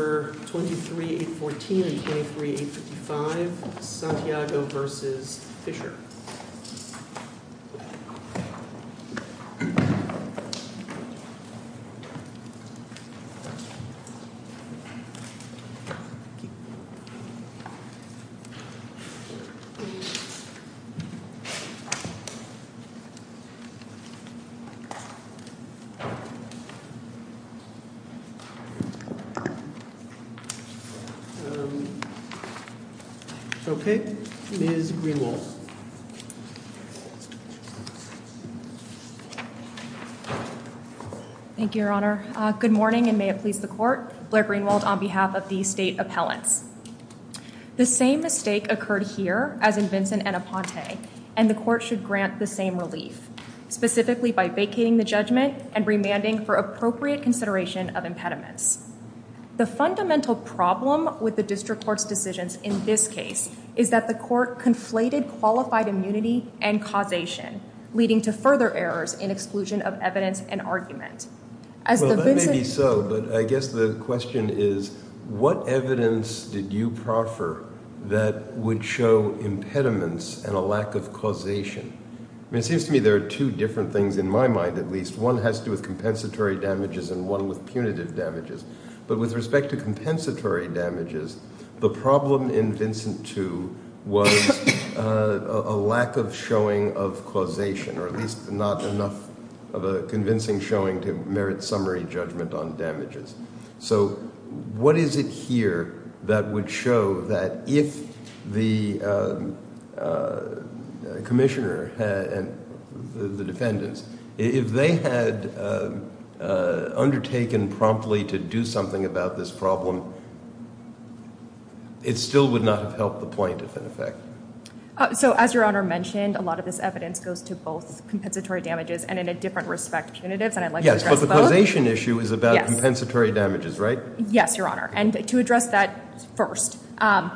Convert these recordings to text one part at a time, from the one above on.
23-814 and 23-855, Santiago v. Fischer. Okay. Ms. Greenwald. Thank you, Your Honor. Good morning, and may it please the Court. Blair Greenwald on behalf of the State Appellants. The same mistake occurred here, as in Vincent and Aponte, and the Court should grant the same relief, specifically by vacating the judgment and remanding for appropriate consideration of impediments. The fundamental problem with the District Court's decisions in this case is that the Court conflated qualified immunity and causation, leading to further errors in exclusion of evidence and argument. Well, that may be so, but I guess the question is, what evidence did you proffer that would show impediments and a lack of causation? I mean, it seems to me there are two different things in my mind at least. One has to do with compensatory damages and one with punitive damages. But with respect to compensatory damages, the problem in Vincent 2 was a lack of showing of causation, or at least not enough of a convincing showing to merit summary judgment on damages. So what is it here that would show that if the commissioner and the defendants, if they had undertaken promptly to do something about this problem, it still would not have helped the point, in effect? So, as Your Honor mentioned, a lot of this evidence goes to both compensatory damages and, in a different respect, punitives, and I'd like to address both. The causation issue is about compensatory damages, right? Yes, Your Honor, and to address that first, some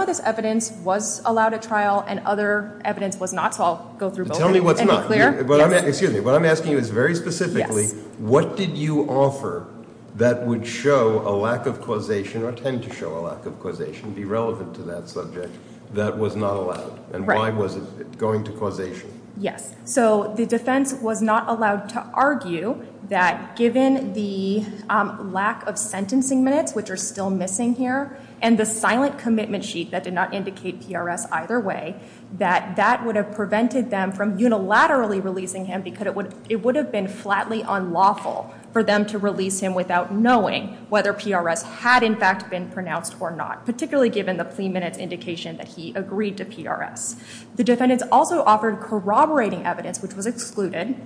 of this evidence was allowed at trial and other evidence was not, so I'll go through both and be clear. Tell me what's not. Excuse me, what I'm asking you is very specifically, what did you offer that would show a lack of causation, or tend to show a lack of causation, be relevant to that subject, that was not allowed, and why was it going to causation? Yes, so the defense was not allowed to argue that given the lack of sentencing minutes, which are still missing here, and the silent commitment sheet that did not indicate PRS either way, that that would have prevented them from unilaterally releasing him because it would have been flatly unlawful for them to release him without knowing whether PRS had, in fact, been pronounced or not, particularly given the plea minutes indication that he agreed to PRS. The defendants also offered corroborating evidence, which was excluded,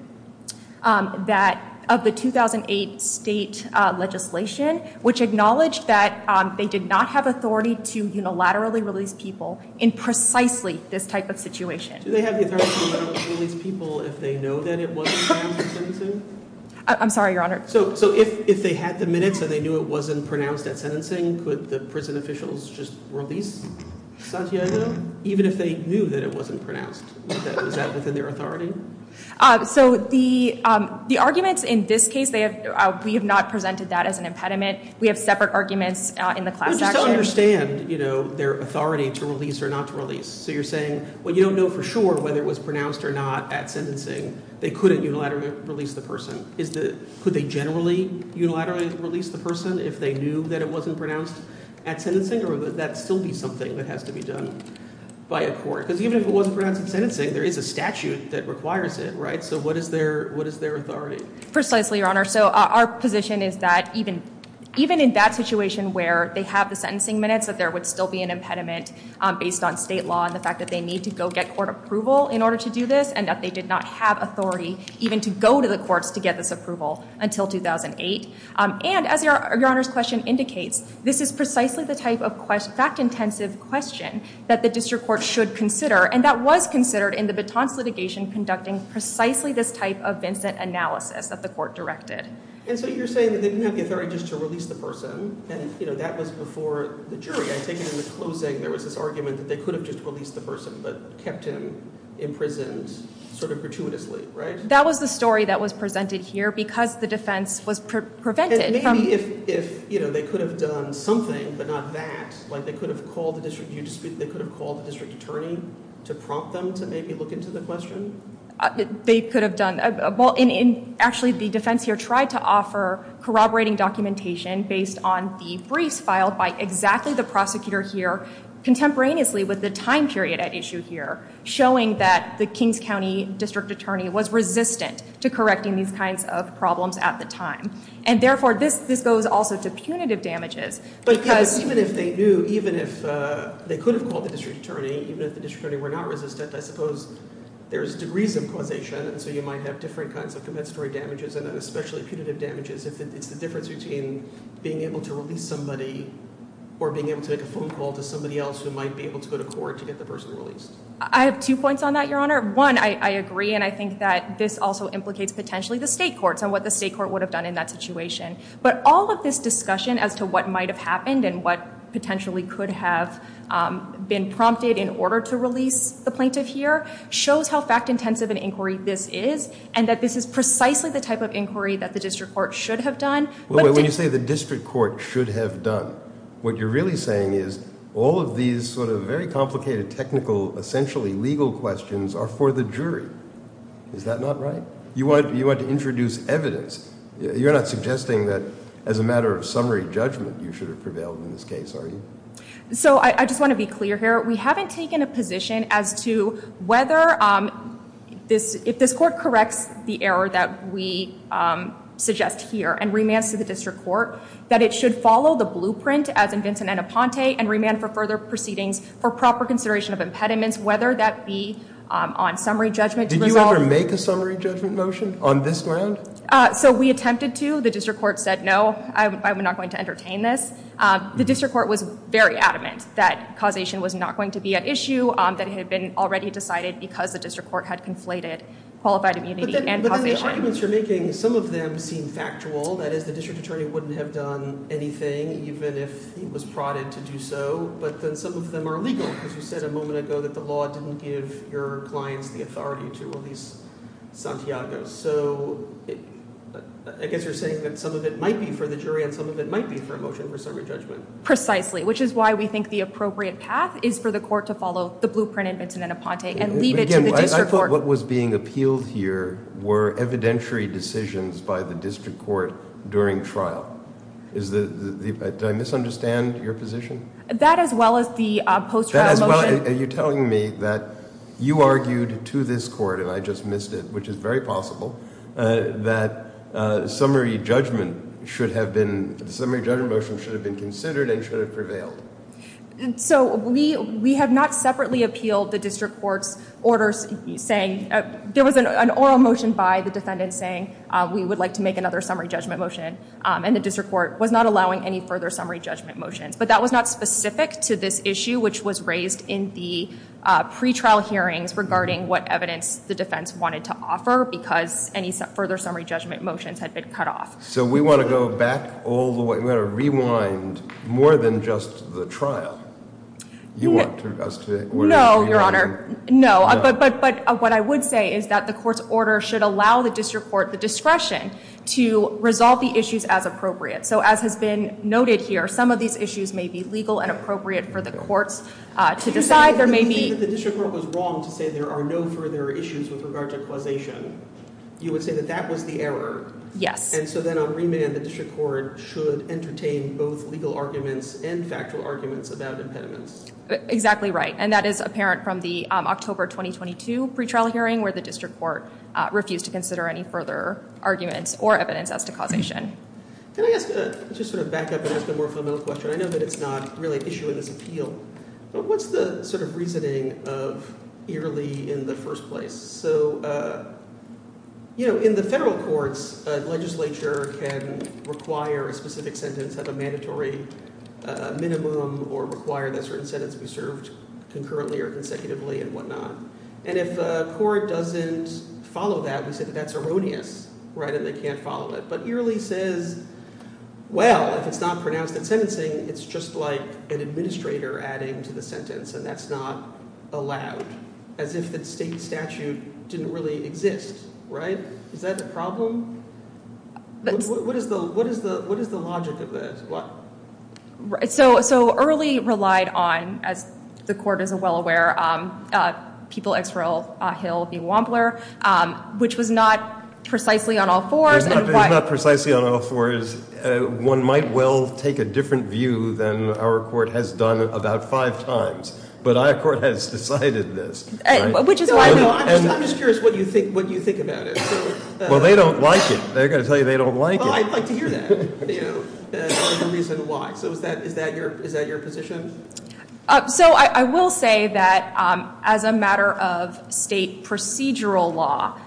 of the 2008 state legislation, which acknowledged that they did not have authority to unilaterally release people in precisely this type of situation. Do they have the authority to unilaterally release people if they know that it wasn't pronounced at sentencing? I'm sorry, Your Honor. So if they had the minutes and they knew it wasn't pronounced at sentencing, could the prison officials just release Santiago even if they knew that it wasn't pronounced? Is that within their authority? So the arguments in this case, we have not presented that as an impediment. We have separate arguments in the class action. I understand their authority to release or not to release. So you're saying, well, you don't know for sure whether it was pronounced or not at sentencing. They couldn't unilaterally release the person. Could they generally unilaterally release the person if they knew that it wasn't pronounced at sentencing? Or would that still be something that has to be done by a court? Because even if it wasn't pronounced at sentencing, there is a statute that requires it, right? So what is their authority? Precisely, Your Honor. So our position is that even in that situation where they have the sentencing minutes, that there would still be an impediment based on state law and the fact that they need to go get court approval in order to do this, and that they did not have authority even to go to the courts to get this approval until 2008. And as Your Honor's question indicates, this is precisely the type of fact-intensive question that the district court should consider, and that was considered in the Baton's litigation conducting precisely this type of Vincent analysis that the court directed. And so you're saying that they didn't have the authority just to release the person. And that was before the jury. I take it in the closing there was this argument that they could have just released the person but kept him imprisoned sort of gratuitously, right? That was the story that was presented here because the defense was prevented. Maybe if they could have done something but not that, like they could have called the district attorney to prompt them to maybe look into the question? They could have done – well, actually the defense here tried to offer corroborating documentation based on the briefs filed by exactly the prosecutor here, contemporaneously with the time period at issue here, showing that the Kings County district attorney was resistant to correcting these kinds of problems at the time. And therefore this goes also to punitive damages. But even if they knew, even if they could have called the district attorney, even if the district attorney were not resistant, I suppose there's degrees of causation, and so you might have different kinds of compensatory damages and especially punitive damages if it's the difference between being able to release somebody or being able to make a phone call to somebody else who might be able to go to court to get the person released. One, I agree and I think that this also implicates potentially the state courts and what the state court would have done in that situation. But all of this discussion as to what might have happened and what potentially could have been prompted in order to release the plaintiff here shows how fact-intensive an inquiry this is and that this is precisely the type of inquiry that the district court should have done. When you say the district court should have done, what you're really saying is all of these sort of very complicated technical, essentially legal questions are for the jury. Is that not right? You want to introduce evidence. You're not suggesting that as a matter of summary judgment you should have prevailed in this case, are you? I just want to be clear here. We haven't taken a position as to whether if this court corrects the error that we suggest here and remands to the district court that it should follow the blueprint as in Vincent and Aponte and remand for further proceedings for proper consideration of impediments, whether that be on summary judgment. Did you ever make a summary judgment motion on this ground? So we attempted to. The district court said, no, I'm not going to entertain this. The district court was very adamant that causation was not going to be at issue, that it had been already decided because the district court had conflated qualified immunity and causation. But then the arguments you're making, some of them seem factual. That is, the district attorney wouldn't have done anything even if he was prodded to do so. But then some of them are legal because you said a moment ago that the law didn't give your clients the authority to release Santiago. So I guess you're saying that some of it might be for the jury and some of it might be for a motion for summary judgment. Precisely, which is why we think the appropriate path is for the court to follow the blueprint in Vincent and Aponte and leave it to the district court. I thought what was being appealed here were evidentiary decisions by the district court during trial. Did I misunderstand your position? That as well as the post-trial motion. Well, are you telling me that you argued to this court, and I just missed it, which is very possible, that summary judgment should have been, the summary judgment motion should have been considered and should have prevailed? So we have not separately appealed the district court's orders saying, there was an oral motion by the defendant saying we would like to make another summary judgment motion. And the district court was not allowing any further summary judgment motions. But that was not specific to this issue, which was raised in the pre-trial hearings regarding what evidence the defense wanted to offer, because any further summary judgment motions had been cut off. So we want to go back all the way. We want to rewind more than just the trial. You want us to- No, Your Honor. No. But what I would say is that the court's order should allow the district court the discretion to resolve the issues as appropriate. So as has been noted here, some of these issues may be legal and appropriate for the courts to decide. There may be- You say that the district court was wrong to say there are no further issues with regard to causation. You would say that that was the error. Yes. And so then on remand, the district court should entertain both legal arguments and factual arguments about impediments. Exactly right. And that is apparent from the October 2022 pre-trial hearing where the district court refused to consider any further arguments or evidence as to causation. Can I just sort of back up and ask a more fundamental question? I know that it's not really an issue in this appeal, but what's the sort of reasoning of Eerly in the first place? So, you know, in the federal courts, a legislature can require a specific sentence of a mandatory minimum or require that certain sentence be served concurrently or consecutively and whatnot. And if a court doesn't follow that, we say that that's erroneous, right, and they can't follow it. But Eerly says, well, if it's not pronounced in sentencing, it's just like an administrator adding to the sentence and that's not allowed, as if the state statute didn't really exist, right? Is that the problem? What is the logic of this? So Eerly relied on, as the court is well aware, people, X for all, Hill v. Wampler, which was not precisely on all fours. It's not precisely on all fours. One might well take a different view than our court has done about five times, but our court has decided this. I'm just curious what you think about it. Well, they don't like it. They're going to tell you they don't like it. Well, I'd like to hear that, the reason why. So is that your position? So I will say that as a matter of state procedural law,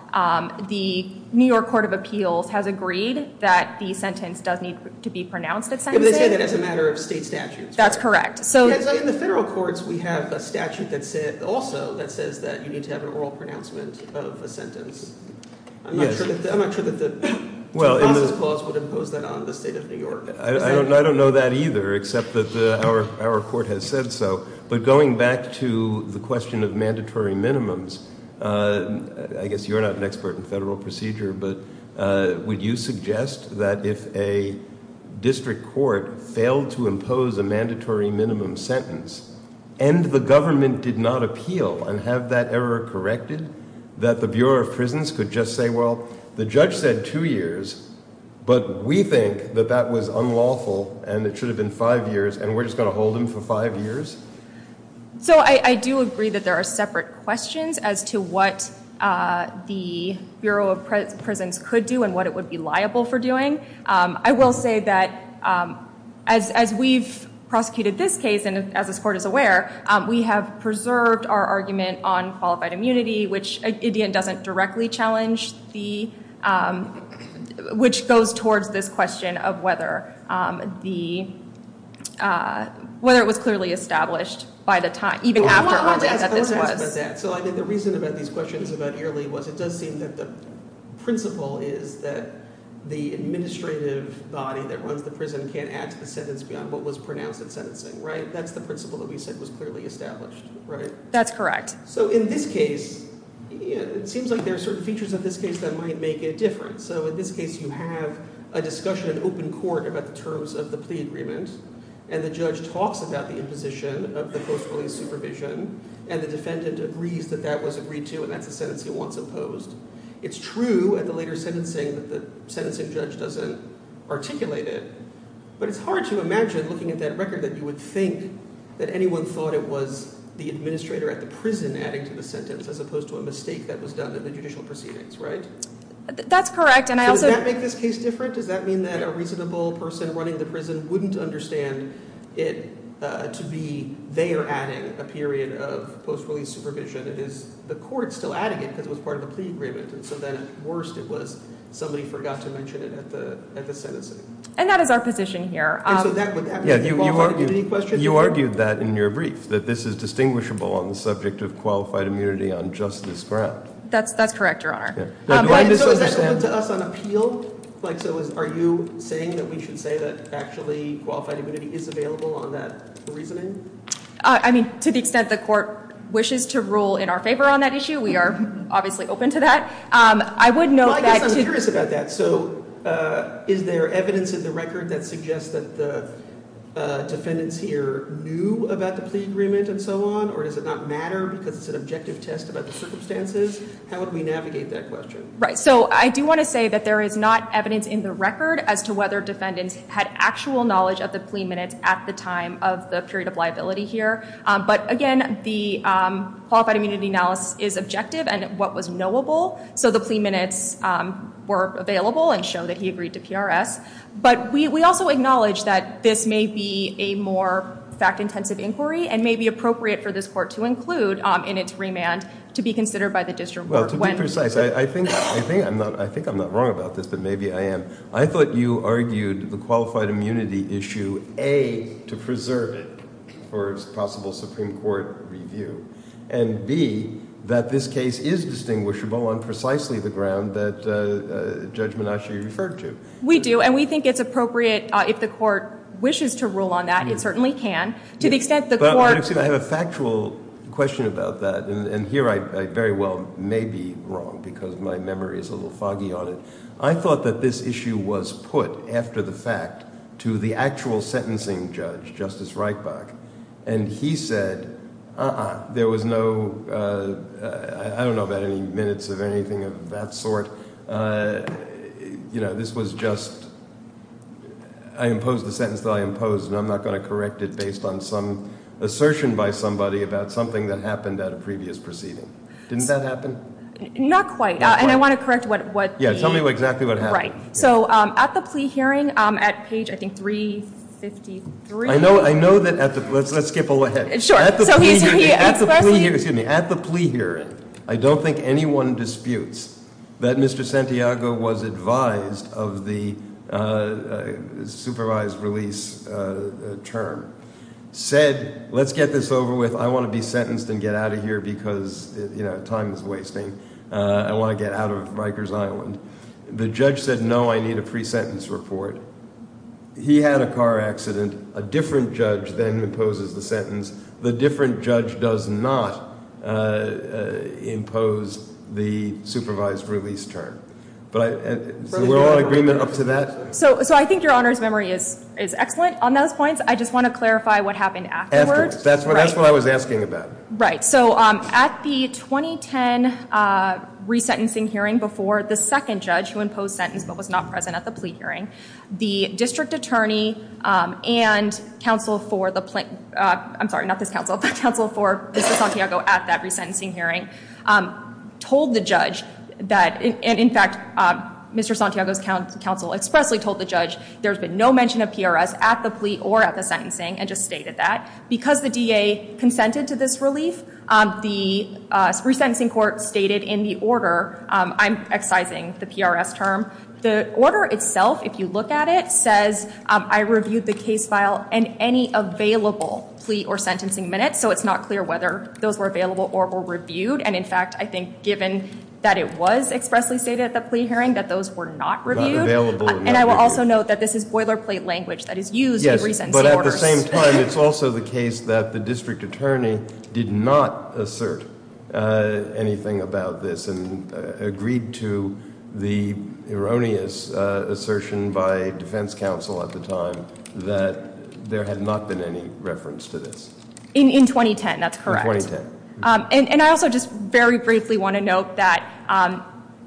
the New York Court of Appeals has agreed that the sentence does need to be pronounced at sentencing. But they say that as a matter of state statute. That's correct. In the federal courts, we have a statute also that says that you need to have an oral pronouncement of a sentence. I'm not sure that the process clause would impose that on the state of New York. I don't know that either, except that our court has said so. But going back to the question of mandatory minimums, I guess you're not an expert in federal procedure. But would you suggest that if a district court failed to impose a mandatory minimum sentence, and the government did not appeal and have that error corrected, that the Bureau of Prisons could just say, well, the judge said two years, but we think that that was unlawful, and it should have been five years, and we're just going to hold him for five years? So I do agree that there are separate questions as to what the Bureau of Prisons could do and what it would be liable for doing. I will say that as we've prosecuted this case, and as this court is aware, we have preserved our argument on qualified immunity, which Indian doesn't directly challenge, which goes towards this question of whether it was clearly established by the time, even after earlier that this was. So I think the reason about these questions about yearly was it does seem that the principle is that the administrative body that runs the prison can't add to the sentence beyond what was pronounced in sentencing, right? That's the principle that we said was clearly established, right? That's correct. So in this case, it seems like there are certain features of this case that might make a difference. So in this case, you have a discussion in open court about the terms of the plea agreement, and the judge talks about the imposition of the post-release supervision, and the defendant agrees that that was agreed to, and that's the sentence he wants imposed. It's true at the later sentencing that the sentencing judge doesn't articulate it, but it's hard to imagine looking at that record that you would think that anyone thought it was the administrator at the prison adding to the sentence as opposed to a mistake that was done in the judicial proceedings, right? That's correct. Does that make this case different? Does that mean that a reasonable person running the prison wouldn't understand it to be they are adding a period of post-release supervision? It is the court still adding it because it was part of the plea agreement. And so then at worst, it was somebody forgot to mention it at the sentencing. And that is our position here. And so would that be a qualified immunity question? You argued that in your brief, that this is distinguishable on the subject of qualified immunity on justice ground. That's correct, Your Honor. So is that open to us on appeal? Like, so are you saying that we should say that actually qualified immunity is available on that reasoning? I mean, to the extent the court wishes to rule in our favor on that issue, we are obviously open to that. I would note that to- Well, I guess I'm curious about that. So is there evidence in the record that suggests that the defendants here knew about the plea agreement and so on? Or does it not matter because it's an objective test about the circumstances? How would we navigate that question? Right. So I do want to say that there is not evidence in the record as to whether defendants had actual knowledge of the plea minutes at the time of the period of liability here. But again, the qualified immunity analysis is objective and what was knowable. So the plea minutes were available and show that he agreed to PRS. But we also acknowledge that this may be a more fact-intensive inquiry and may be appropriate for this court to include in its remand to be considered by the district court. Well, to be precise, I think I'm not wrong about this, but maybe I am. I thought you argued the qualified immunity issue, A, to preserve it for a possible Supreme Court review, and B, that this case is distinguishable on precisely the ground that Judge Menasche referred to. We do, and we think it's appropriate if the court wishes to rule on that. It certainly can. To the extent the court- But I have a factual question about that. And here I very well may be wrong because my memory is a little foggy on it. I thought that this issue was put after the fact to the actual sentencing judge, Justice Reichbach, and he said, uh-uh, there was no- I don't know about any minutes of anything of that sort. You know, this was just- I imposed the sentence that I imposed, and I'm not going to correct it based on some assertion by somebody about something that happened at a previous proceeding. Didn't that happen? Not quite, and I want to correct what- Yeah, tell me exactly what happened. Right. So at the plea hearing, at page, I think, 353- I know that at the- let's skip ahead. Sure. So he- At the plea hearing, I don't think anyone disputes that Mr. Santiago was advised of the supervised release term. Said, let's get this over with. I want to be sentenced and get out of here because time is wasting. I want to get out of Rikers Island. The judge said, no, I need a pre-sentence report. He had a car accident. A different judge then imposes the sentence. The different judge does not impose the supervised release term. But I- So we're all in agreement up to that? So I think Your Honor's memory is excellent on those points. I just want to clarify what happened afterwards. Afterwards. That's what I was asking about. Right. So at the 2010 resentencing hearing before the second judge who imposed sentence but was not present at the plea hearing, the district attorney and counsel for the plaint- I'm sorry, not this counsel, but counsel for Mr. Santiago at that resentencing hearing told the judge that- and, in fact, Mr. Santiago's counsel expressly told the judge there's been no mention of PRS at the plea or at the sentencing and just stated that. Because the DA consented to this relief, the resentencing court stated in the order- I'm excising the PRS term. The order itself, if you look at it, says I reviewed the case file and any available plea or sentencing minutes. So it's not clear whether those were available or were reviewed. And, in fact, I think given that it was expressly stated at the plea hearing that those were not reviewed. Not available or not reviewed. And I will also note that this is boilerplate language that is used in resentencing orders. At the same time, it's also the case that the district attorney did not assert anything about this and agreed to the erroneous assertion by defense counsel at the time that there had not been any reference to this. In 2010, that's correct. In 2010. And I also just very briefly want to note that,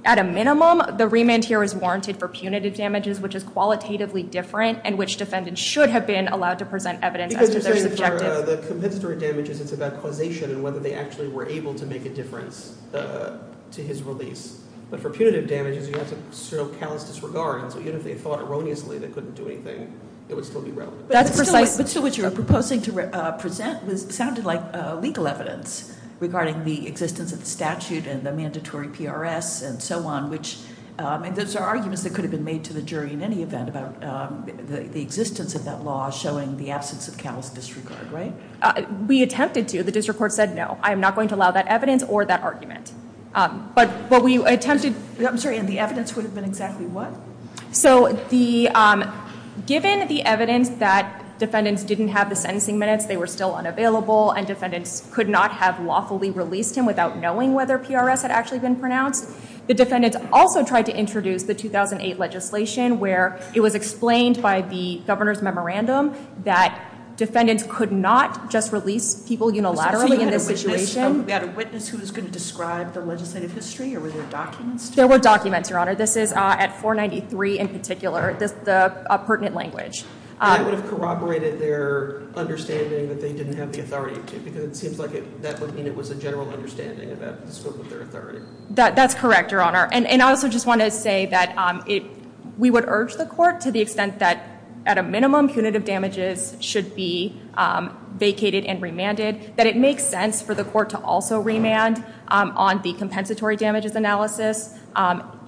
at a minimum, the remand here is warranted for punitive damages, which is qualitatively different and which defendants should have been allowed to present evidence as to their subjective- Because you're saying for the compensatory damages, it's about causation and whether they actually were able to make a difference to his release. But for punitive damages, you have to show callous disregard. And so even if they thought erroneously they couldn't do anything, it would still be relevant. But still what you're proposing to present sounded like legal evidence regarding the existence of the statute and the mandatory PRS and so on. And those are arguments that could have been made to the jury in any event about the existence of that law showing the absence of callous disregard, right? We attempted to. The district court said, no, I am not going to allow that evidence or that argument. But we attempted- I'm sorry. And the evidence would have been exactly what? So given the evidence that defendants didn't have the sentencing minutes, they were still unavailable, and defendants could not have lawfully released him without knowing whether PRS had actually been pronounced, the defendants also tried to introduce the 2008 legislation where it was explained by the governor's memorandum that defendants could not just release people unilaterally in this situation. So you had a witness who was going to describe the legislative history? Or were there documents? There were documents, Your Honor. This is at 493 in particular, the pertinent language. That would have corroborated their understanding that they didn't have the authority to, because it seems like that would mean it was a general understanding about the scope of their authority. That's correct, Your Honor. And I also just want to say that we would urge the court to the extent that, at a minimum, punitive damages should be vacated and remanded, that it makes sense for the court to also remand on the compensatory damages analysis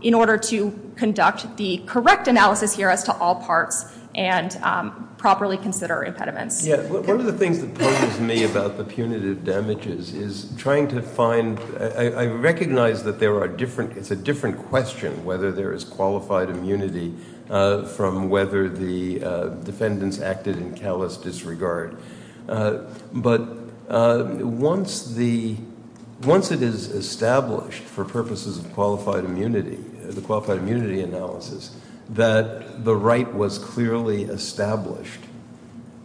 in order to conduct the correct analysis here as to all parts and properly consider impediments. Yeah. One of the things that puzzles me about the punitive damages is trying to find – I recognize that there are different – it's a different question whether there is qualified immunity from whether the defendants acted in callous disregard. But once the – once it is established for purposes of qualified immunity, the qualified immunity analysis, that the right was clearly established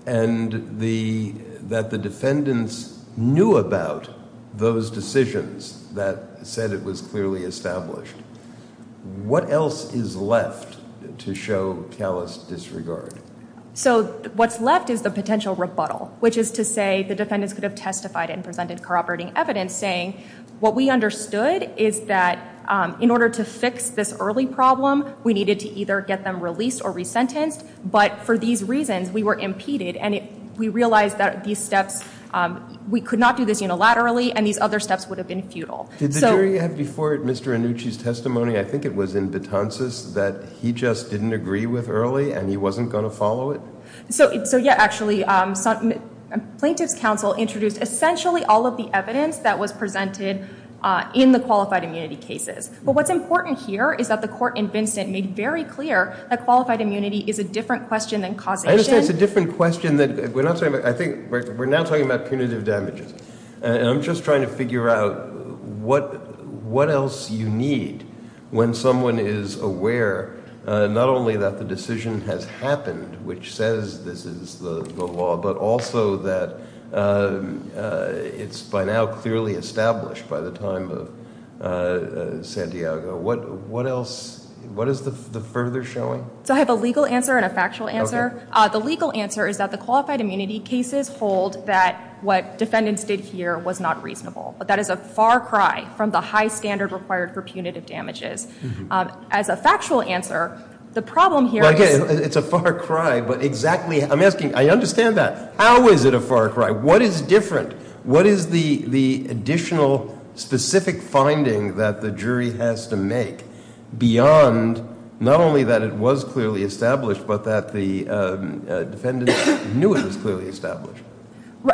and that the defendants knew about those decisions that said it was clearly established, what else is left to show callous disregard? So what's left is the potential rebuttal, which is to say the defendants could have testified and presented corroborating evidence saying, what we understood is that in order to fix this early problem, we needed to either get them released or resentenced. But for these reasons, we were impeded, and we realized that these steps – we could not do this unilaterally, and these other steps would have been futile. Did the jury have before it Mr. Annucci's testimony? I think it was in Betances that he just didn't agree with early and he wasn't going to follow it. So, yeah, actually, plaintiff's counsel introduced essentially all of the evidence that was presented in the qualified immunity cases. But what's important here is that the court in Vincent made very clear that qualified immunity is a different question than causation. I understand it's a different question than – we're not talking about – I think we're now talking about punitive damages. And I'm just trying to figure out what else you need when someone is aware not only that the decision has happened, which says this is the law, but also that it's by now clearly established by the time of Santiago. What else – what is the further showing? So I have a legal answer and a factual answer. The legal answer is that the qualified immunity cases hold that what defendants did here was not reasonable. That is a far cry from the high standard required for punitive damages. As a factual answer, the problem here is – It's a far cry, but exactly – I'm asking – I understand that. How is it a far cry? What is different? What is the additional specific finding that the jury has to make beyond not only that it was clearly established, but that the defendants knew it was clearly established?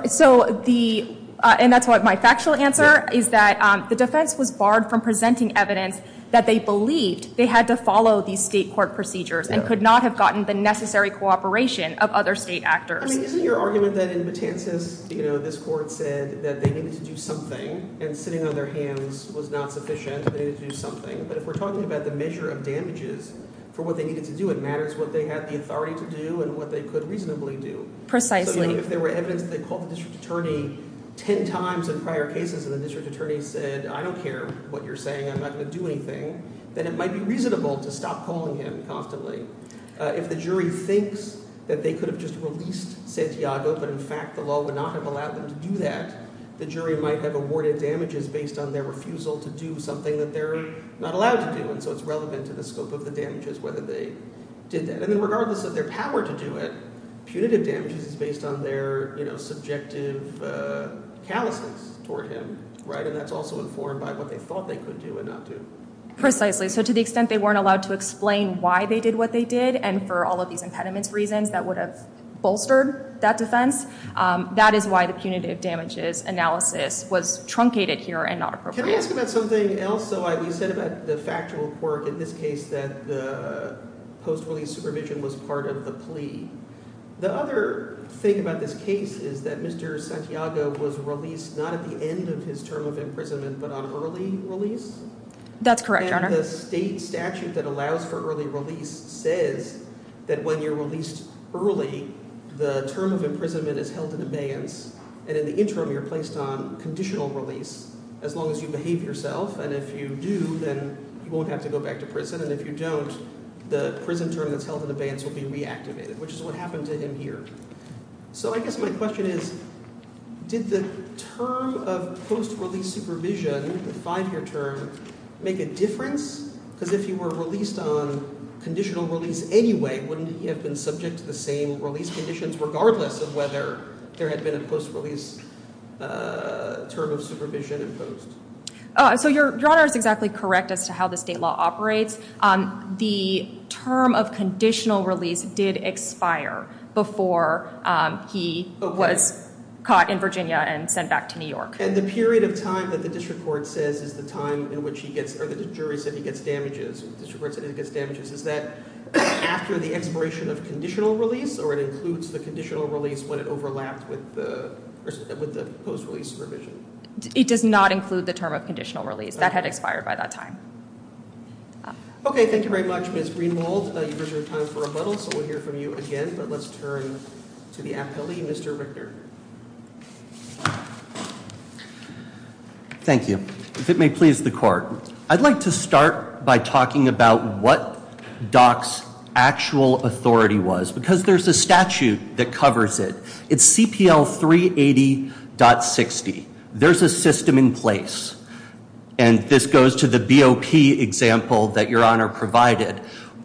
So the – and that's what my factual answer is that the defense was barred from presenting evidence that they believed they had to follow these state court procedures and could not have gotten the necessary cooperation of other state actors. Isn't your argument that in Matances this court said that they needed to do something and sitting on their hands was not sufficient? They needed to do something. But if we're talking about the measure of damages for what they needed to do, it matters what they had the authority to do and what they could reasonably do. Precisely. So if there were evidence that they called the district attorney ten times in prior cases and the district attorney said, I don't care what you're saying. I'm not going to do anything, then it might be reasonable to stop calling him constantly. If the jury thinks that they could have just released Santiago, but in fact the law would not have allowed them to do that, the jury might have awarded damages based on their refusal to do something that they're not allowed to do. And so it's relevant to the scope of the damages whether they did that. And then regardless of their power to do it, punitive damages is based on their subjective callousness toward him. And that's also informed by what they thought they could do and not do. Precisely. So to the extent they weren't allowed to explain why they did what they did and for all of these impediments reasons that would have bolstered that defense, that is why the punitive damages analysis was truncated here and not appropriate. Can I ask about something else? So we said about the factual quirk in this case that the post-release supervision was part of the plea. The other thing about this case is that Mr. Santiago was released not at the end of his term of imprisonment but on early release. That's correct, Your Honor. And the state statute that allows for early release says that when you're released early, the term of imprisonment is held in abeyance and in the interim you're placed on conditional release as long as you behave yourself. And if you do, then you won't have to go back to prison. And if you don't, the prison term that's held in abeyance will be reactivated, which is what happened to him here. So I guess my question is did the term of post-release supervision, the five-year term, make a difference? Because if he were released on conditional release anyway, wouldn't he have been subject to the same release conditions regardless of whether there had been a post-release term of supervision imposed? So Your Honor is exactly correct as to how the state law operates. The term of conditional release did expire before he was caught in Virginia and sent back to New York. And the period of time that the district court says is the time in which he gets or the jury said he gets damages, the district court said he gets damages, is that after the expiration of conditional release or it includes the conditional release when it overlapped with the post-release supervision? It does not include the term of conditional release. That had expired by that time. Okay. Thank you very much, Ms. Greenwald. You guys are in time for rebuttal, so we'll hear from you again. But let's turn to the appellee, Mr. Richter. Thank you. If it may please the court, I'd like to start by talking about what Dock's actual authority was because there's a statute that covers it. It's CPL 380.60. There's a system in place. And this goes to the BOP example that Your Honor provided.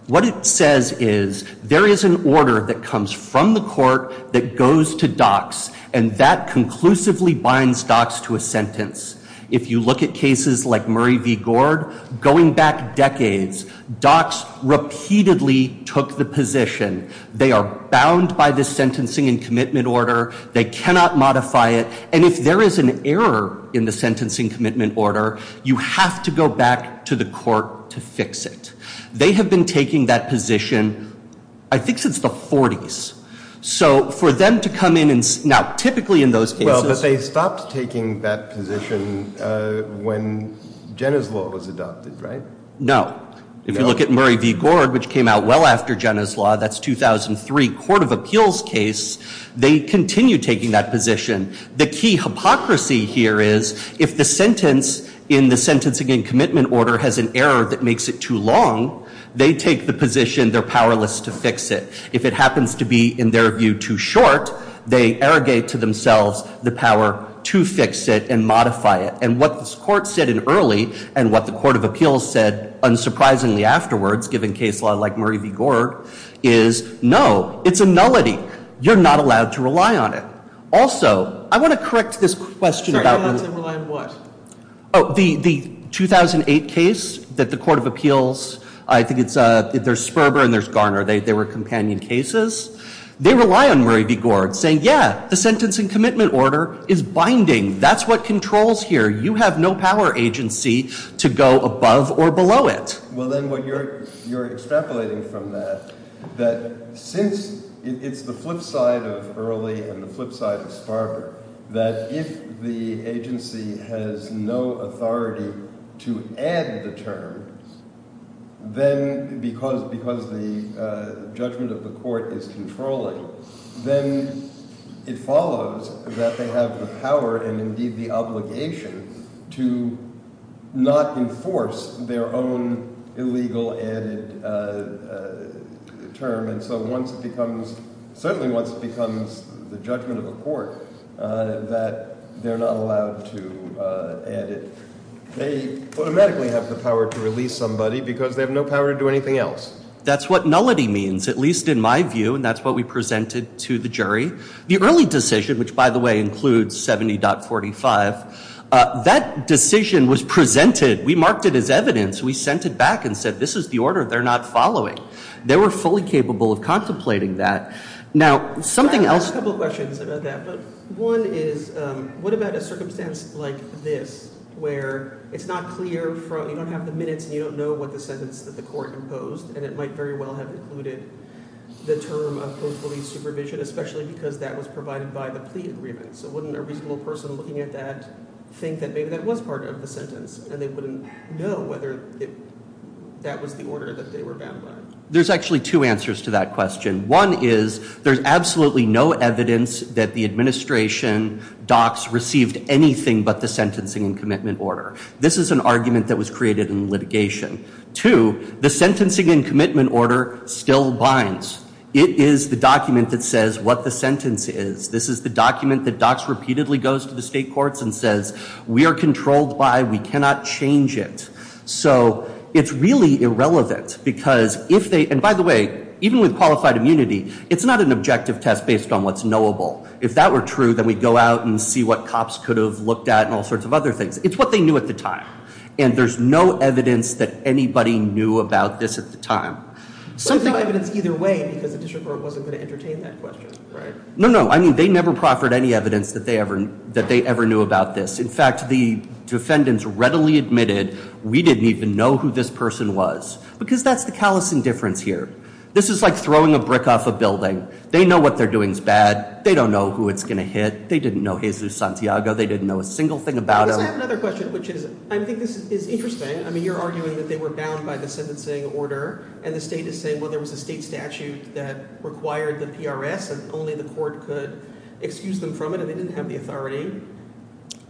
What it says is there is an order that comes from the court that goes to Dock's and that conclusively binds Dock's to a sentence. If you look at cases like Murray v. Gord, going back decades, Dock's repeatedly took the position they are bound by the sentencing and commitment order. They cannot modify it. And if there is an error in the sentencing commitment order, you have to go back to the court to fix it. They have been taking that position I think since the 40s. So for them to come in and now typically in those cases Well, but they stopped taking that position when Jenner's law was adopted, right? No. If you look at Murray v. Gord, which came out well after Jenner's law, that's 2003, court of appeals case, they continue taking that position. The key hypocrisy here is if the sentence in the sentencing and commitment order has an error that makes it too long, they take the position they're powerless to fix it. If it happens to be, in their view, too short, they arrogate to themselves the power to fix it and modify it. And what this court said in early and what the court of appeals said unsurprisingly afterwards, given case law like Murray v. Gord, is no, it's a nullity. You're not allowed to rely on it. Also, I want to correct this question about You're not allowed to rely on what? The 2008 case that the court of appeals, I think it's, there's Sperber and there's Garner. They were companion cases. They rely on Murray v. Gord saying, yeah, the sentencing commitment order is binding. That's what controls here. You have no power agency to go above or below it. Well, then what you're extrapolating from that, that since it's the flip side of early and the flip side of Sperber, that if the agency has no authority to add the terms, then because the judgment of the court is controlling, then it follows that they have the power and indeed the obligation to not enforce their own illegal added term. And so once it becomes, certainly once it becomes the judgment of the court that they're not allowed to add it, they automatically have the power to release somebody because they have no power to do anything else. That's what nullity means, at least in my view. And that's what we presented to the jury. The early decision, which, by the way, includes 70.45, that decision was presented. We marked it as evidence. We sent it back and said, this is the order they're not following. They were fully capable of contemplating that. Now, something else. I have a couple of questions about that. One is, what about a circumstance like this, where it's not clear, you don't have the minutes, and you don't know what the sentence that the court imposed, and it might very well have included the term of police supervision, especially because that was provided by the plea agreement. So wouldn't a reasonable person looking at that think that maybe that was part of the sentence, and they wouldn't know whether that was the order that they were bound by? There's actually two answers to that question. One is, there's absolutely no evidence that the administration docs received anything but the sentencing and commitment order. This is an argument that was created in litigation. Two, the sentencing and commitment order still binds. It is the document that says what the sentence is. This is the document that docs repeatedly goes to the state courts and says, we are controlled by, we cannot change it. So it's really irrelevant, because if they, and by the way, even with qualified immunity, it's not an objective test based on what's knowable. If that were true, then we'd go out and see what cops could have looked at and all sorts of other things. It's what they knew at the time. And there's no evidence that anybody knew about this at the time. But there's no evidence either way, because the district court wasn't going to entertain that question, right? No, no. I mean, they never proffered any evidence that they ever knew about this. In fact, the defendants readily admitted, we didn't even know who this person was. Because that's the callous indifference here. This is like throwing a brick off a building. They know what they're doing is bad. They don't know who it's going to hit. They didn't know Jesus Santiago. They didn't know a single thing about him. Because I have another question, which is, I think this is interesting. I mean, you're arguing that they were bound by the sentencing order. And the state is saying, well, there was a state statute that required the PRS, and only the court could excuse them from it, and they didn't have the authority.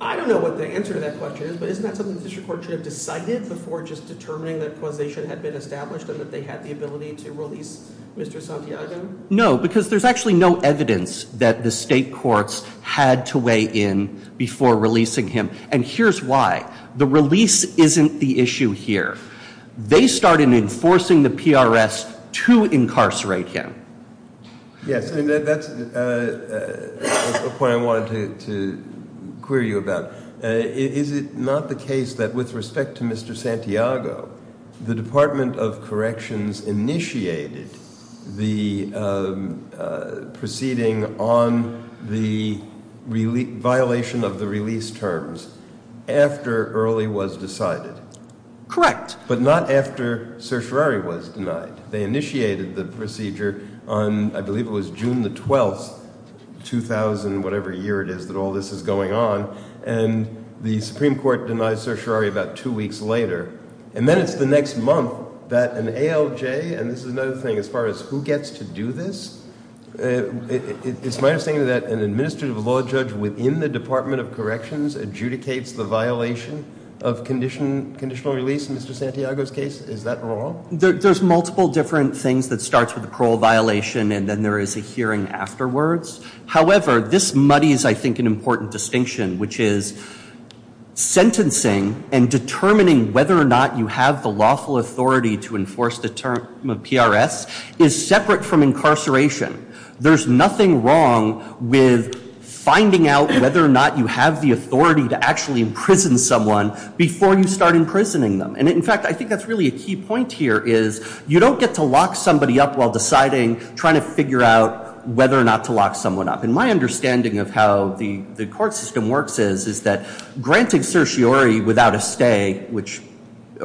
I don't know what the answer to that question is. But isn't that something the district court should have decided before just determining that causation had been established, and that they had the ability to release Mr. Santiago? No, because there's actually no evidence that the state courts had to weigh in before releasing him. And here's why. The release isn't the issue here. They started enforcing the PRS to incarcerate him. Yes, and that's a point I wanted to query you about. Is it not the case that with respect to Mr. Santiago, the Department of Corrections initiated the proceeding on the violation of the release terms after Early was decided? Correct. But not after Certiorari was denied. They initiated the procedure on, I believe it was June the 12th, 2000, whatever year it is that all this is going on, and the Supreme Court denied Certiorari about two weeks later. And then it's the next month that an ALJ, and this is another thing as far as who gets to do this, it's my understanding that an administrative law judge within the Department of Corrections adjudicates the violation of conditional release in Mr. Santiago's case. Is that wrong? There's multiple different things that starts with the parole violation and then there is a hearing afterwards. However, this muddies, I think, an important distinction, which is sentencing and determining whether or not you have the lawful authority to enforce the term of PRS is separate from incarceration. There's nothing wrong with finding out whether or not you have the authority to actually imprison someone before you start imprisoning them. And in fact, I think that's really a key point here is you don't get to lock somebody up while deciding, trying to figure out whether or not to lock someone up. And my understanding of how the court system works is that granting Certiorari without a stay,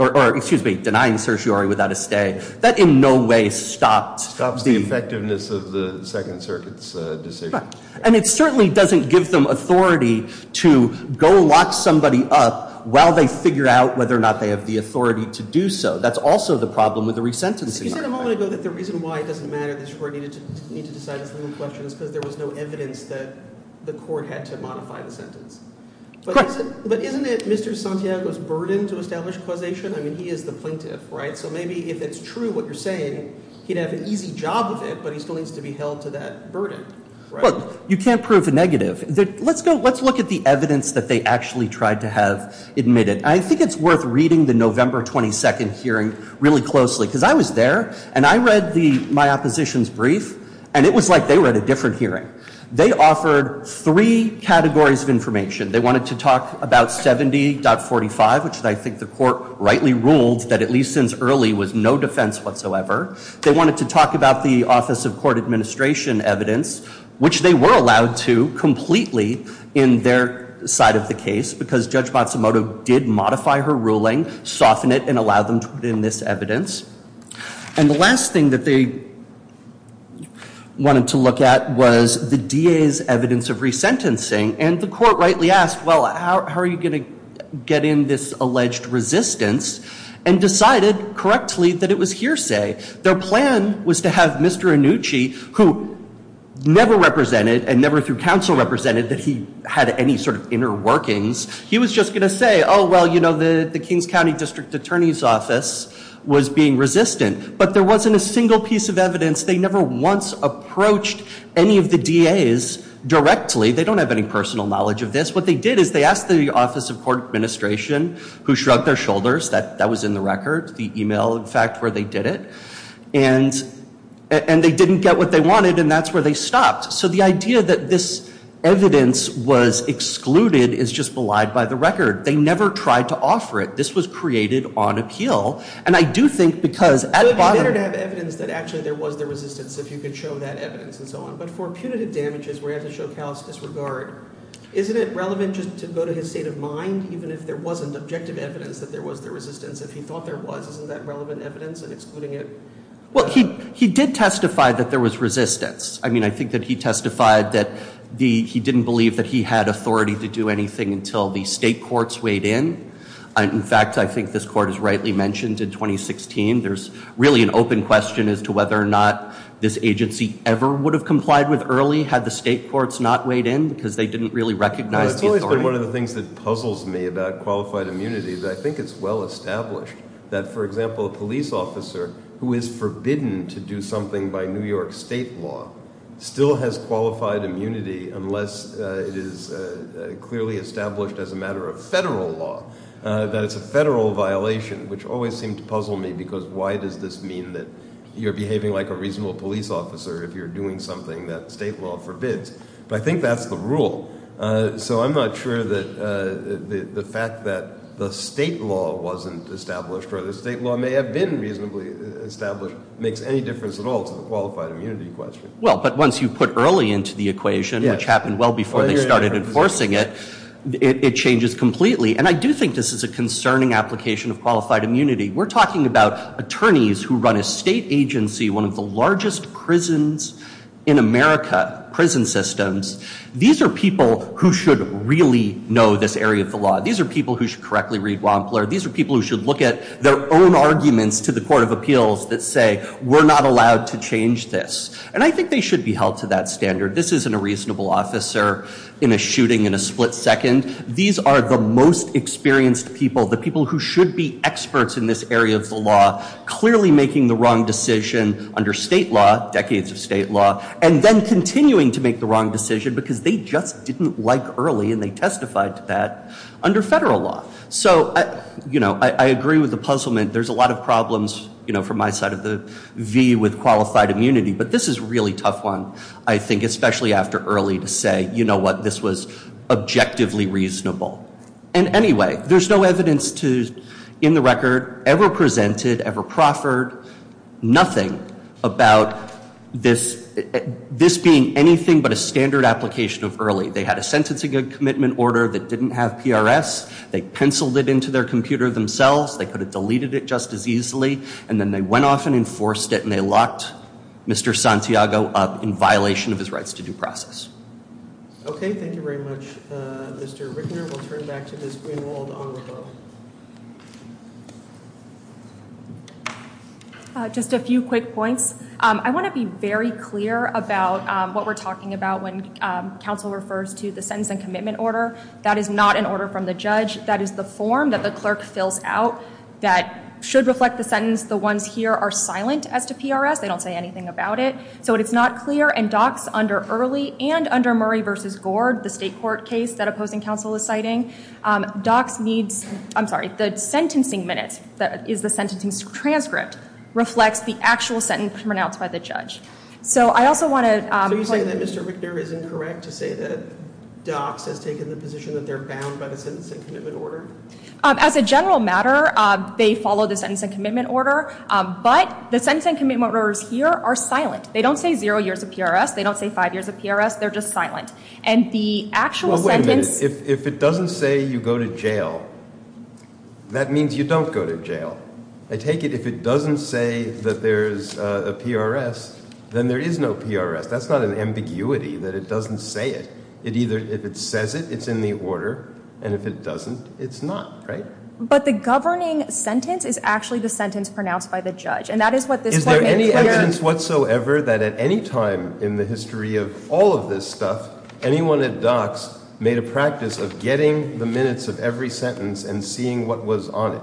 or excuse me, denying Certiorari without a stay, that in no way stops the- Stops the effectiveness of the Second Circuit's decision. And it certainly doesn't give them authority to go lock somebody up while they figure out whether or not they have the authority to do so. That's also the problem with the resentencing. You said a moment ago that the reason why it doesn't matter that the court needed to decide this little question is because there was no evidence that the court had to modify the sentence. Correct. But isn't it Mr. Santiago's burden to establish causation? I mean, he is the plaintiff, right? So maybe if it's true what you're saying, he'd have an easy job with it, but he still needs to be held to that burden. Well, you can't prove a negative. Let's go, let's look at the evidence that they actually tried to have admitted. And I think it's worth reading the November 22nd hearing really closely. Because I was there, and I read my opposition's brief, and it was like they were at a different hearing. They offered three categories of information. They wanted to talk about 70.45, which I think the court rightly ruled that at least since early was no defense whatsoever. They wanted to talk about the Office of Court Administration evidence, which they were allowed to completely in their side of the case. Because Judge Matsumoto did modify her ruling, soften it, and allow them to put in this evidence. And the last thing that they wanted to look at was the DA's evidence of resentencing. And the court rightly asked, well, how are you going to get in this alleged resistance? And decided correctly that it was hearsay. Their plan was to have Mr. Annucci, who never represented and never through counsel represented that he had any sort of inner workings. He was just going to say, oh, well, you know, the Kings County District Attorney's Office was being resistant. But there wasn't a single piece of evidence. They never once approached any of the DA's directly. They don't have any personal knowledge of this. What they did is they asked the Office of Court Administration, who shrugged their shoulders. That was in the record. The email, in fact, where they did it. And they didn't get what they wanted. And that's where they stopped. So the idea that this evidence was excluded is just belied by the record. They never tried to offer it. This was created on appeal. And I do think because at bottom- Is it relevant just to go to his state of mind, even if there wasn't objective evidence that there was the resistance? If he thought there was, isn't that relevant evidence in excluding it? Well, he did testify that there was resistance. I mean, I think that he testified that he didn't believe that he had authority to do anything until the state courts weighed in. In fact, I think this court has rightly mentioned in 2016 there's really an open question as to whether or not this agency ever would have complied with early had the state courts not weighed in because they didn't really recognize the authority. It's always been one of the things that puzzles me about qualified immunity. I think it's well established that, for example, a police officer who is forbidden to do something by New York state law still has qualified immunity unless it is clearly established as a matter of federal law, that it's a federal violation, which always seemed to puzzle me because why does this mean that you're behaving like a reasonable police officer if you're doing something that state law forbids? But I think that's the rule. So I'm not sure that the fact that the state law wasn't established or the state law may have been reasonably established makes any difference at all to the qualified immunity question. Well, but once you put early into the equation, which happened well before they started enforcing it, it changes completely. And I do think this is a concerning application of qualified immunity. We're talking about attorneys who run a state agency, one of the largest prisons in America, prison systems. These are people who should really know this area of the law. These are people who should correctly read Wampler. These are people who should look at their own arguments to the Court of Appeals that say, we're not allowed to change this. And I think they should be held to that standard. This isn't a reasonable officer in a shooting in a split second. These are the most experienced people, the people who should be experts in this area of the law, clearly making the wrong decision under state law, decades of state law, and then continuing to make the wrong decision because they just didn't like early and they testified to that under federal law. So I agree with the puzzlement. There's a lot of problems from my side of the V with qualified immunity. But this is a really tough one, I think, especially after early to say, you know what, this was objectively reasonable. And anyway, there's no evidence to, in the record, ever presented, ever proffered, nothing about this being anything but a standard application of early. They had a sentencing and commitment order that didn't have PRS. They penciled it into their computer themselves. They could have deleted it just as easily. And then they went off and enforced it and they locked Mr. Santiago up in violation of his rights to due process. Okay, thank you very much, Mr. Rickner. We'll turn back to Ms. Greenwald on the phone. Just a few quick points. I want to be very clear about what we're talking about when counsel refers to the sentence and commitment order. That is not an order from the judge. That is the form that the clerk fills out that should reflect the sentence. The ones here are silent as to PRS. They don't say anything about it. So it's not clear. And docs under early and under Murray v. Gord, the state court case that opposing counsel is citing, docs needs, I'm sorry, the sentencing minutes is the sentencing transcript reflects the actual sentence pronounced by the judge. Are you saying that Mr. Rickner is incorrect to say that docs has taken the position that they're bound by the sentence and commitment order? As a general matter, they follow the sentence and commitment order. But the sentence and commitment orders here are silent. They don't say zero years of PRS. They don't say five years of PRS. And the actual sentence — Well, wait a minute. If it doesn't say you go to jail, that means you don't go to jail. I take it if it doesn't say that there's a PRS, then there is no PRS. That's not an ambiguity that it doesn't say it. If it says it, it's in the order. And if it doesn't, it's not. Right? But the governing sentence is actually the sentence pronounced by the judge. And that is what this court — Is there any evidence whatsoever that at any time in the history of all of this stuff, anyone at docs made a practice of getting the minutes of every sentence and seeing what was on it?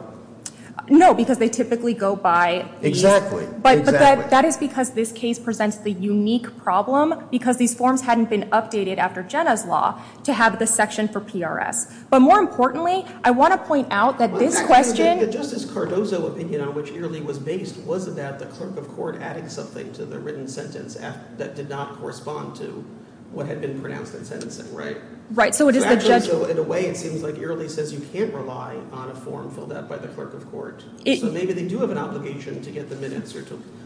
No, because they typically go by — Exactly. But that is because this case presents the unique problem because these forms hadn't been updated after Jenna's law to have the section for PRS. But more importantly, I want to point out that this question — But actually, the Justice Cardozo opinion on which Earley was based was about the clerk of court adding something to the written sentence that did not correspond to what had been pronounced in sentencing, right? Right. So it is the judge — So maybe they do have an obligation to get the minutes,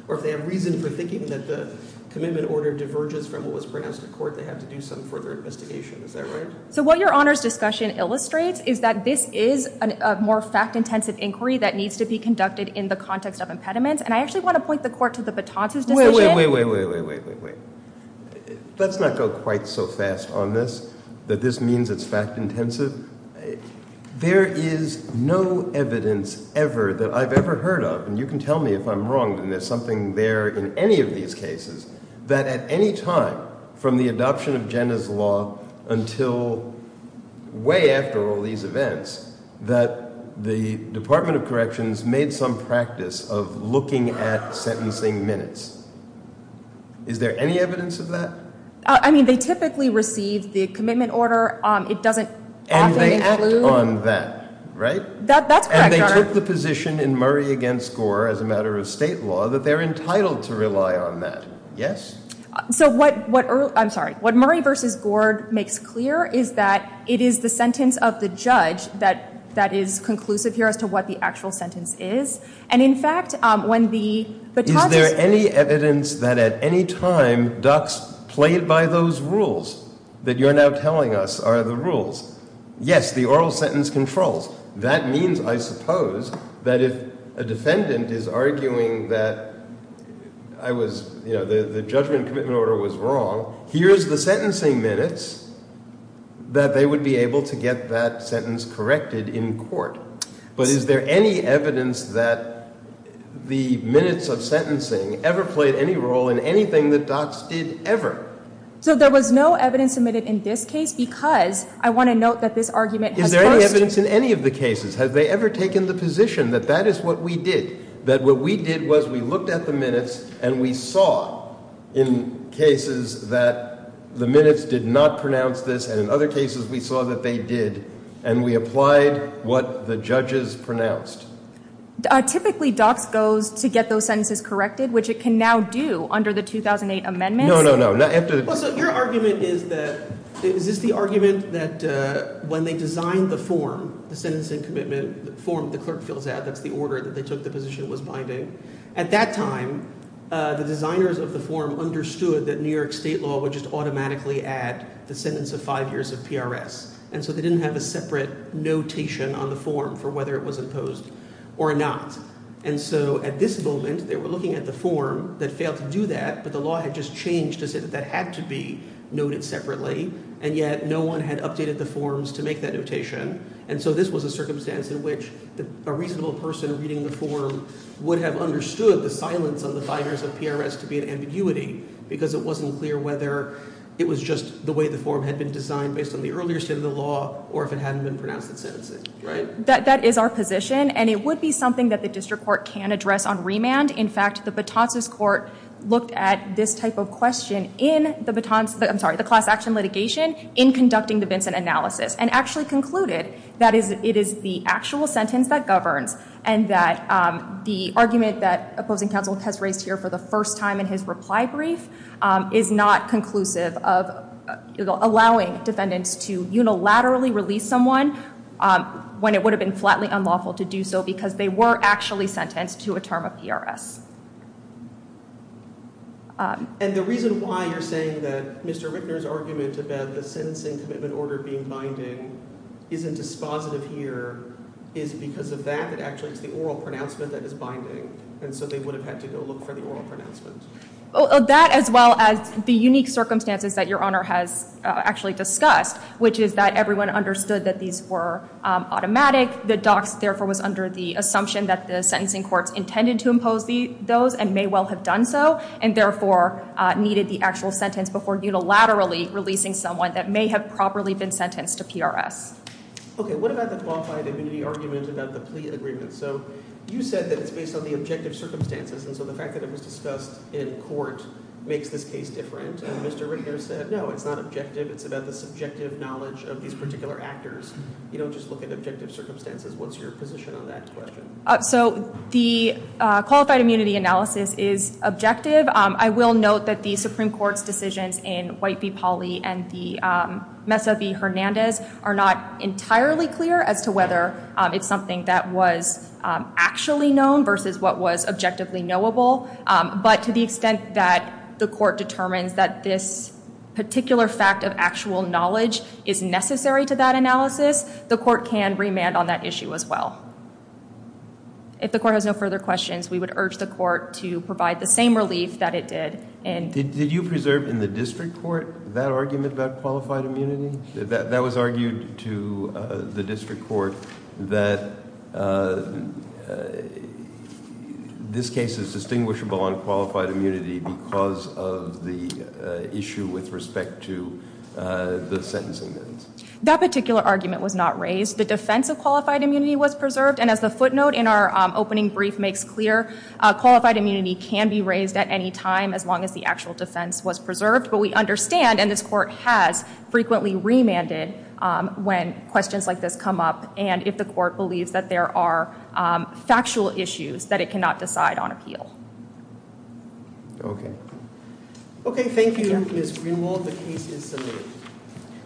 or if they have reason for thinking that the commitment order diverges from what was pronounced in court, they have to do some further investigation. Is that right? So what your Honor's discussion illustrates is that this is a more fact-intensive inquiry that needs to be conducted in the context of impediments. And I actually want to point the court to the Batons' decision — Wait, wait, wait, wait, wait, wait, wait, wait. Let's not go quite so fast on this, that this means it's fact-intensive. There is no evidence ever that I've ever heard of — and you can tell me if I'm wrong, and there's something there in any of these cases — that at any time from the adoption of Jenna's law until way after all these events, that the Department of Corrections made some practice of looking at sentencing minutes. Is there any evidence of that? I mean, they typically receive the commitment order. It doesn't often include — And they act on that, right? That's correct, Your Honor. And they took the position in Murray v. Gord as a matter of state law that they're entitled to rely on that. Yes? So what — I'm sorry — what Murray v. Gord makes clear is that it is the sentence of the judge that is conclusive here as to what the actual sentence is. And in fact, when the — Is there any evidence that at any time ducks played by those rules that you're now telling us are the rules? Yes, the oral sentence controls. That means, I suppose, that if a defendant is arguing that I was — you know, the judgment commitment order was wrong, here's the sentencing minutes that they would be able to get that sentence corrected in court. But is there any evidence that the minutes of sentencing ever played any role in anything that ducks did ever? So there was no evidence submitted in this case because I want to note that this argument has first — Is there any evidence in any of the cases? Have they ever taken the position that that is what we did, that what we did was we looked at the minutes and we saw in cases that the minutes did not pronounce this and in other cases we saw that they did and we applied what the judges pronounced? Typically ducks goes to get those sentences corrected, which it can now do under the 2008 amendments. No, no, no. So your argument is that — is this the argument that when they designed the form, the sentencing commitment form, the clerk fills out, that's the order that they took the position was binding. At that time, the designers of the form understood that New York state law would just automatically add the sentence of five years of PRS. And so they didn't have a separate notation on the form for whether it was imposed or not. And so at this moment, they were looking at the form that failed to do that, but the law had just changed to say that that had to be noted separately, and yet no one had updated the forms to make that notation. And so this was a circumstance in which a reasonable person reading the form would have understood the silence on the five years of PRS to be an ambiguity because it wasn't clear whether it was just the way the form had been designed based on the earlier state of the law or if it hadn't been pronounced in sentencing. Right? That is our position, and it would be something that the district court can address on remand. In fact, the Batons' court looked at this type of question in the Batons' — I'm sorry, the class action litigation in conducting the Vincent analysis and actually concluded that it is the actual sentence that governs and that the argument that opposing counsel has raised here for the first time in his reply brief is not conclusive of allowing defendants to unilaterally release someone when it would have been flatly unlawful to do so because they were actually sentenced to a term of PRS. And the reason why you're saying that Mr. Richner's argument about the sentencing commitment order being binding isn't dispositive here is because of that, that actually it's the oral pronouncement that is binding, and so they would have had to go look for the oral pronouncement. That as well as the unique circumstances that Your Honor has actually discussed, which is that everyone understood that these were automatic. The docs, therefore, was under the assumption that the sentencing courts intended to impose those and may well have done so and therefore needed the actual sentence before unilaterally releasing someone that may have properly been sentenced to PRS. Okay. What about the qualified immunity argument about the plea agreement? So you said that it's based on the objective circumstances, and so the fact that it was discussed in court makes this case different. Mr. Richner said, no, it's not objective. It's about the subjective knowledge of these particular actors. You don't just look at objective circumstances. What's your position on that question? So the qualified immunity analysis is objective. I will note that the Supreme Court's decisions in White v. Pauley and the Mesa v. Hernandez are not entirely clear as to whether it's something that was actually known versus what was objectively knowable, but to the extent that the court determines that this particular fact of actual knowledge is necessary to that analysis, the court can remand on that issue as well. If the court has no further questions, we would urge the court to provide the same relief that it did in— Did you preserve in the district court that argument about qualified immunity? That was argued to the district court that this case is distinguishable on qualified immunity because of the issue with respect to the sentencing. That particular argument was not raised. The defense of qualified immunity was preserved, and as the footnote in our opening brief makes clear, qualified immunity can be raised at any time as long as the actual defense was preserved, but we understand, and this court has, frequently remanded when questions like this come up and if the court believes that there are factual issues that it cannot decide on appeal. Okay. Okay, thank you, Ms. Greenwald. The case is submitted.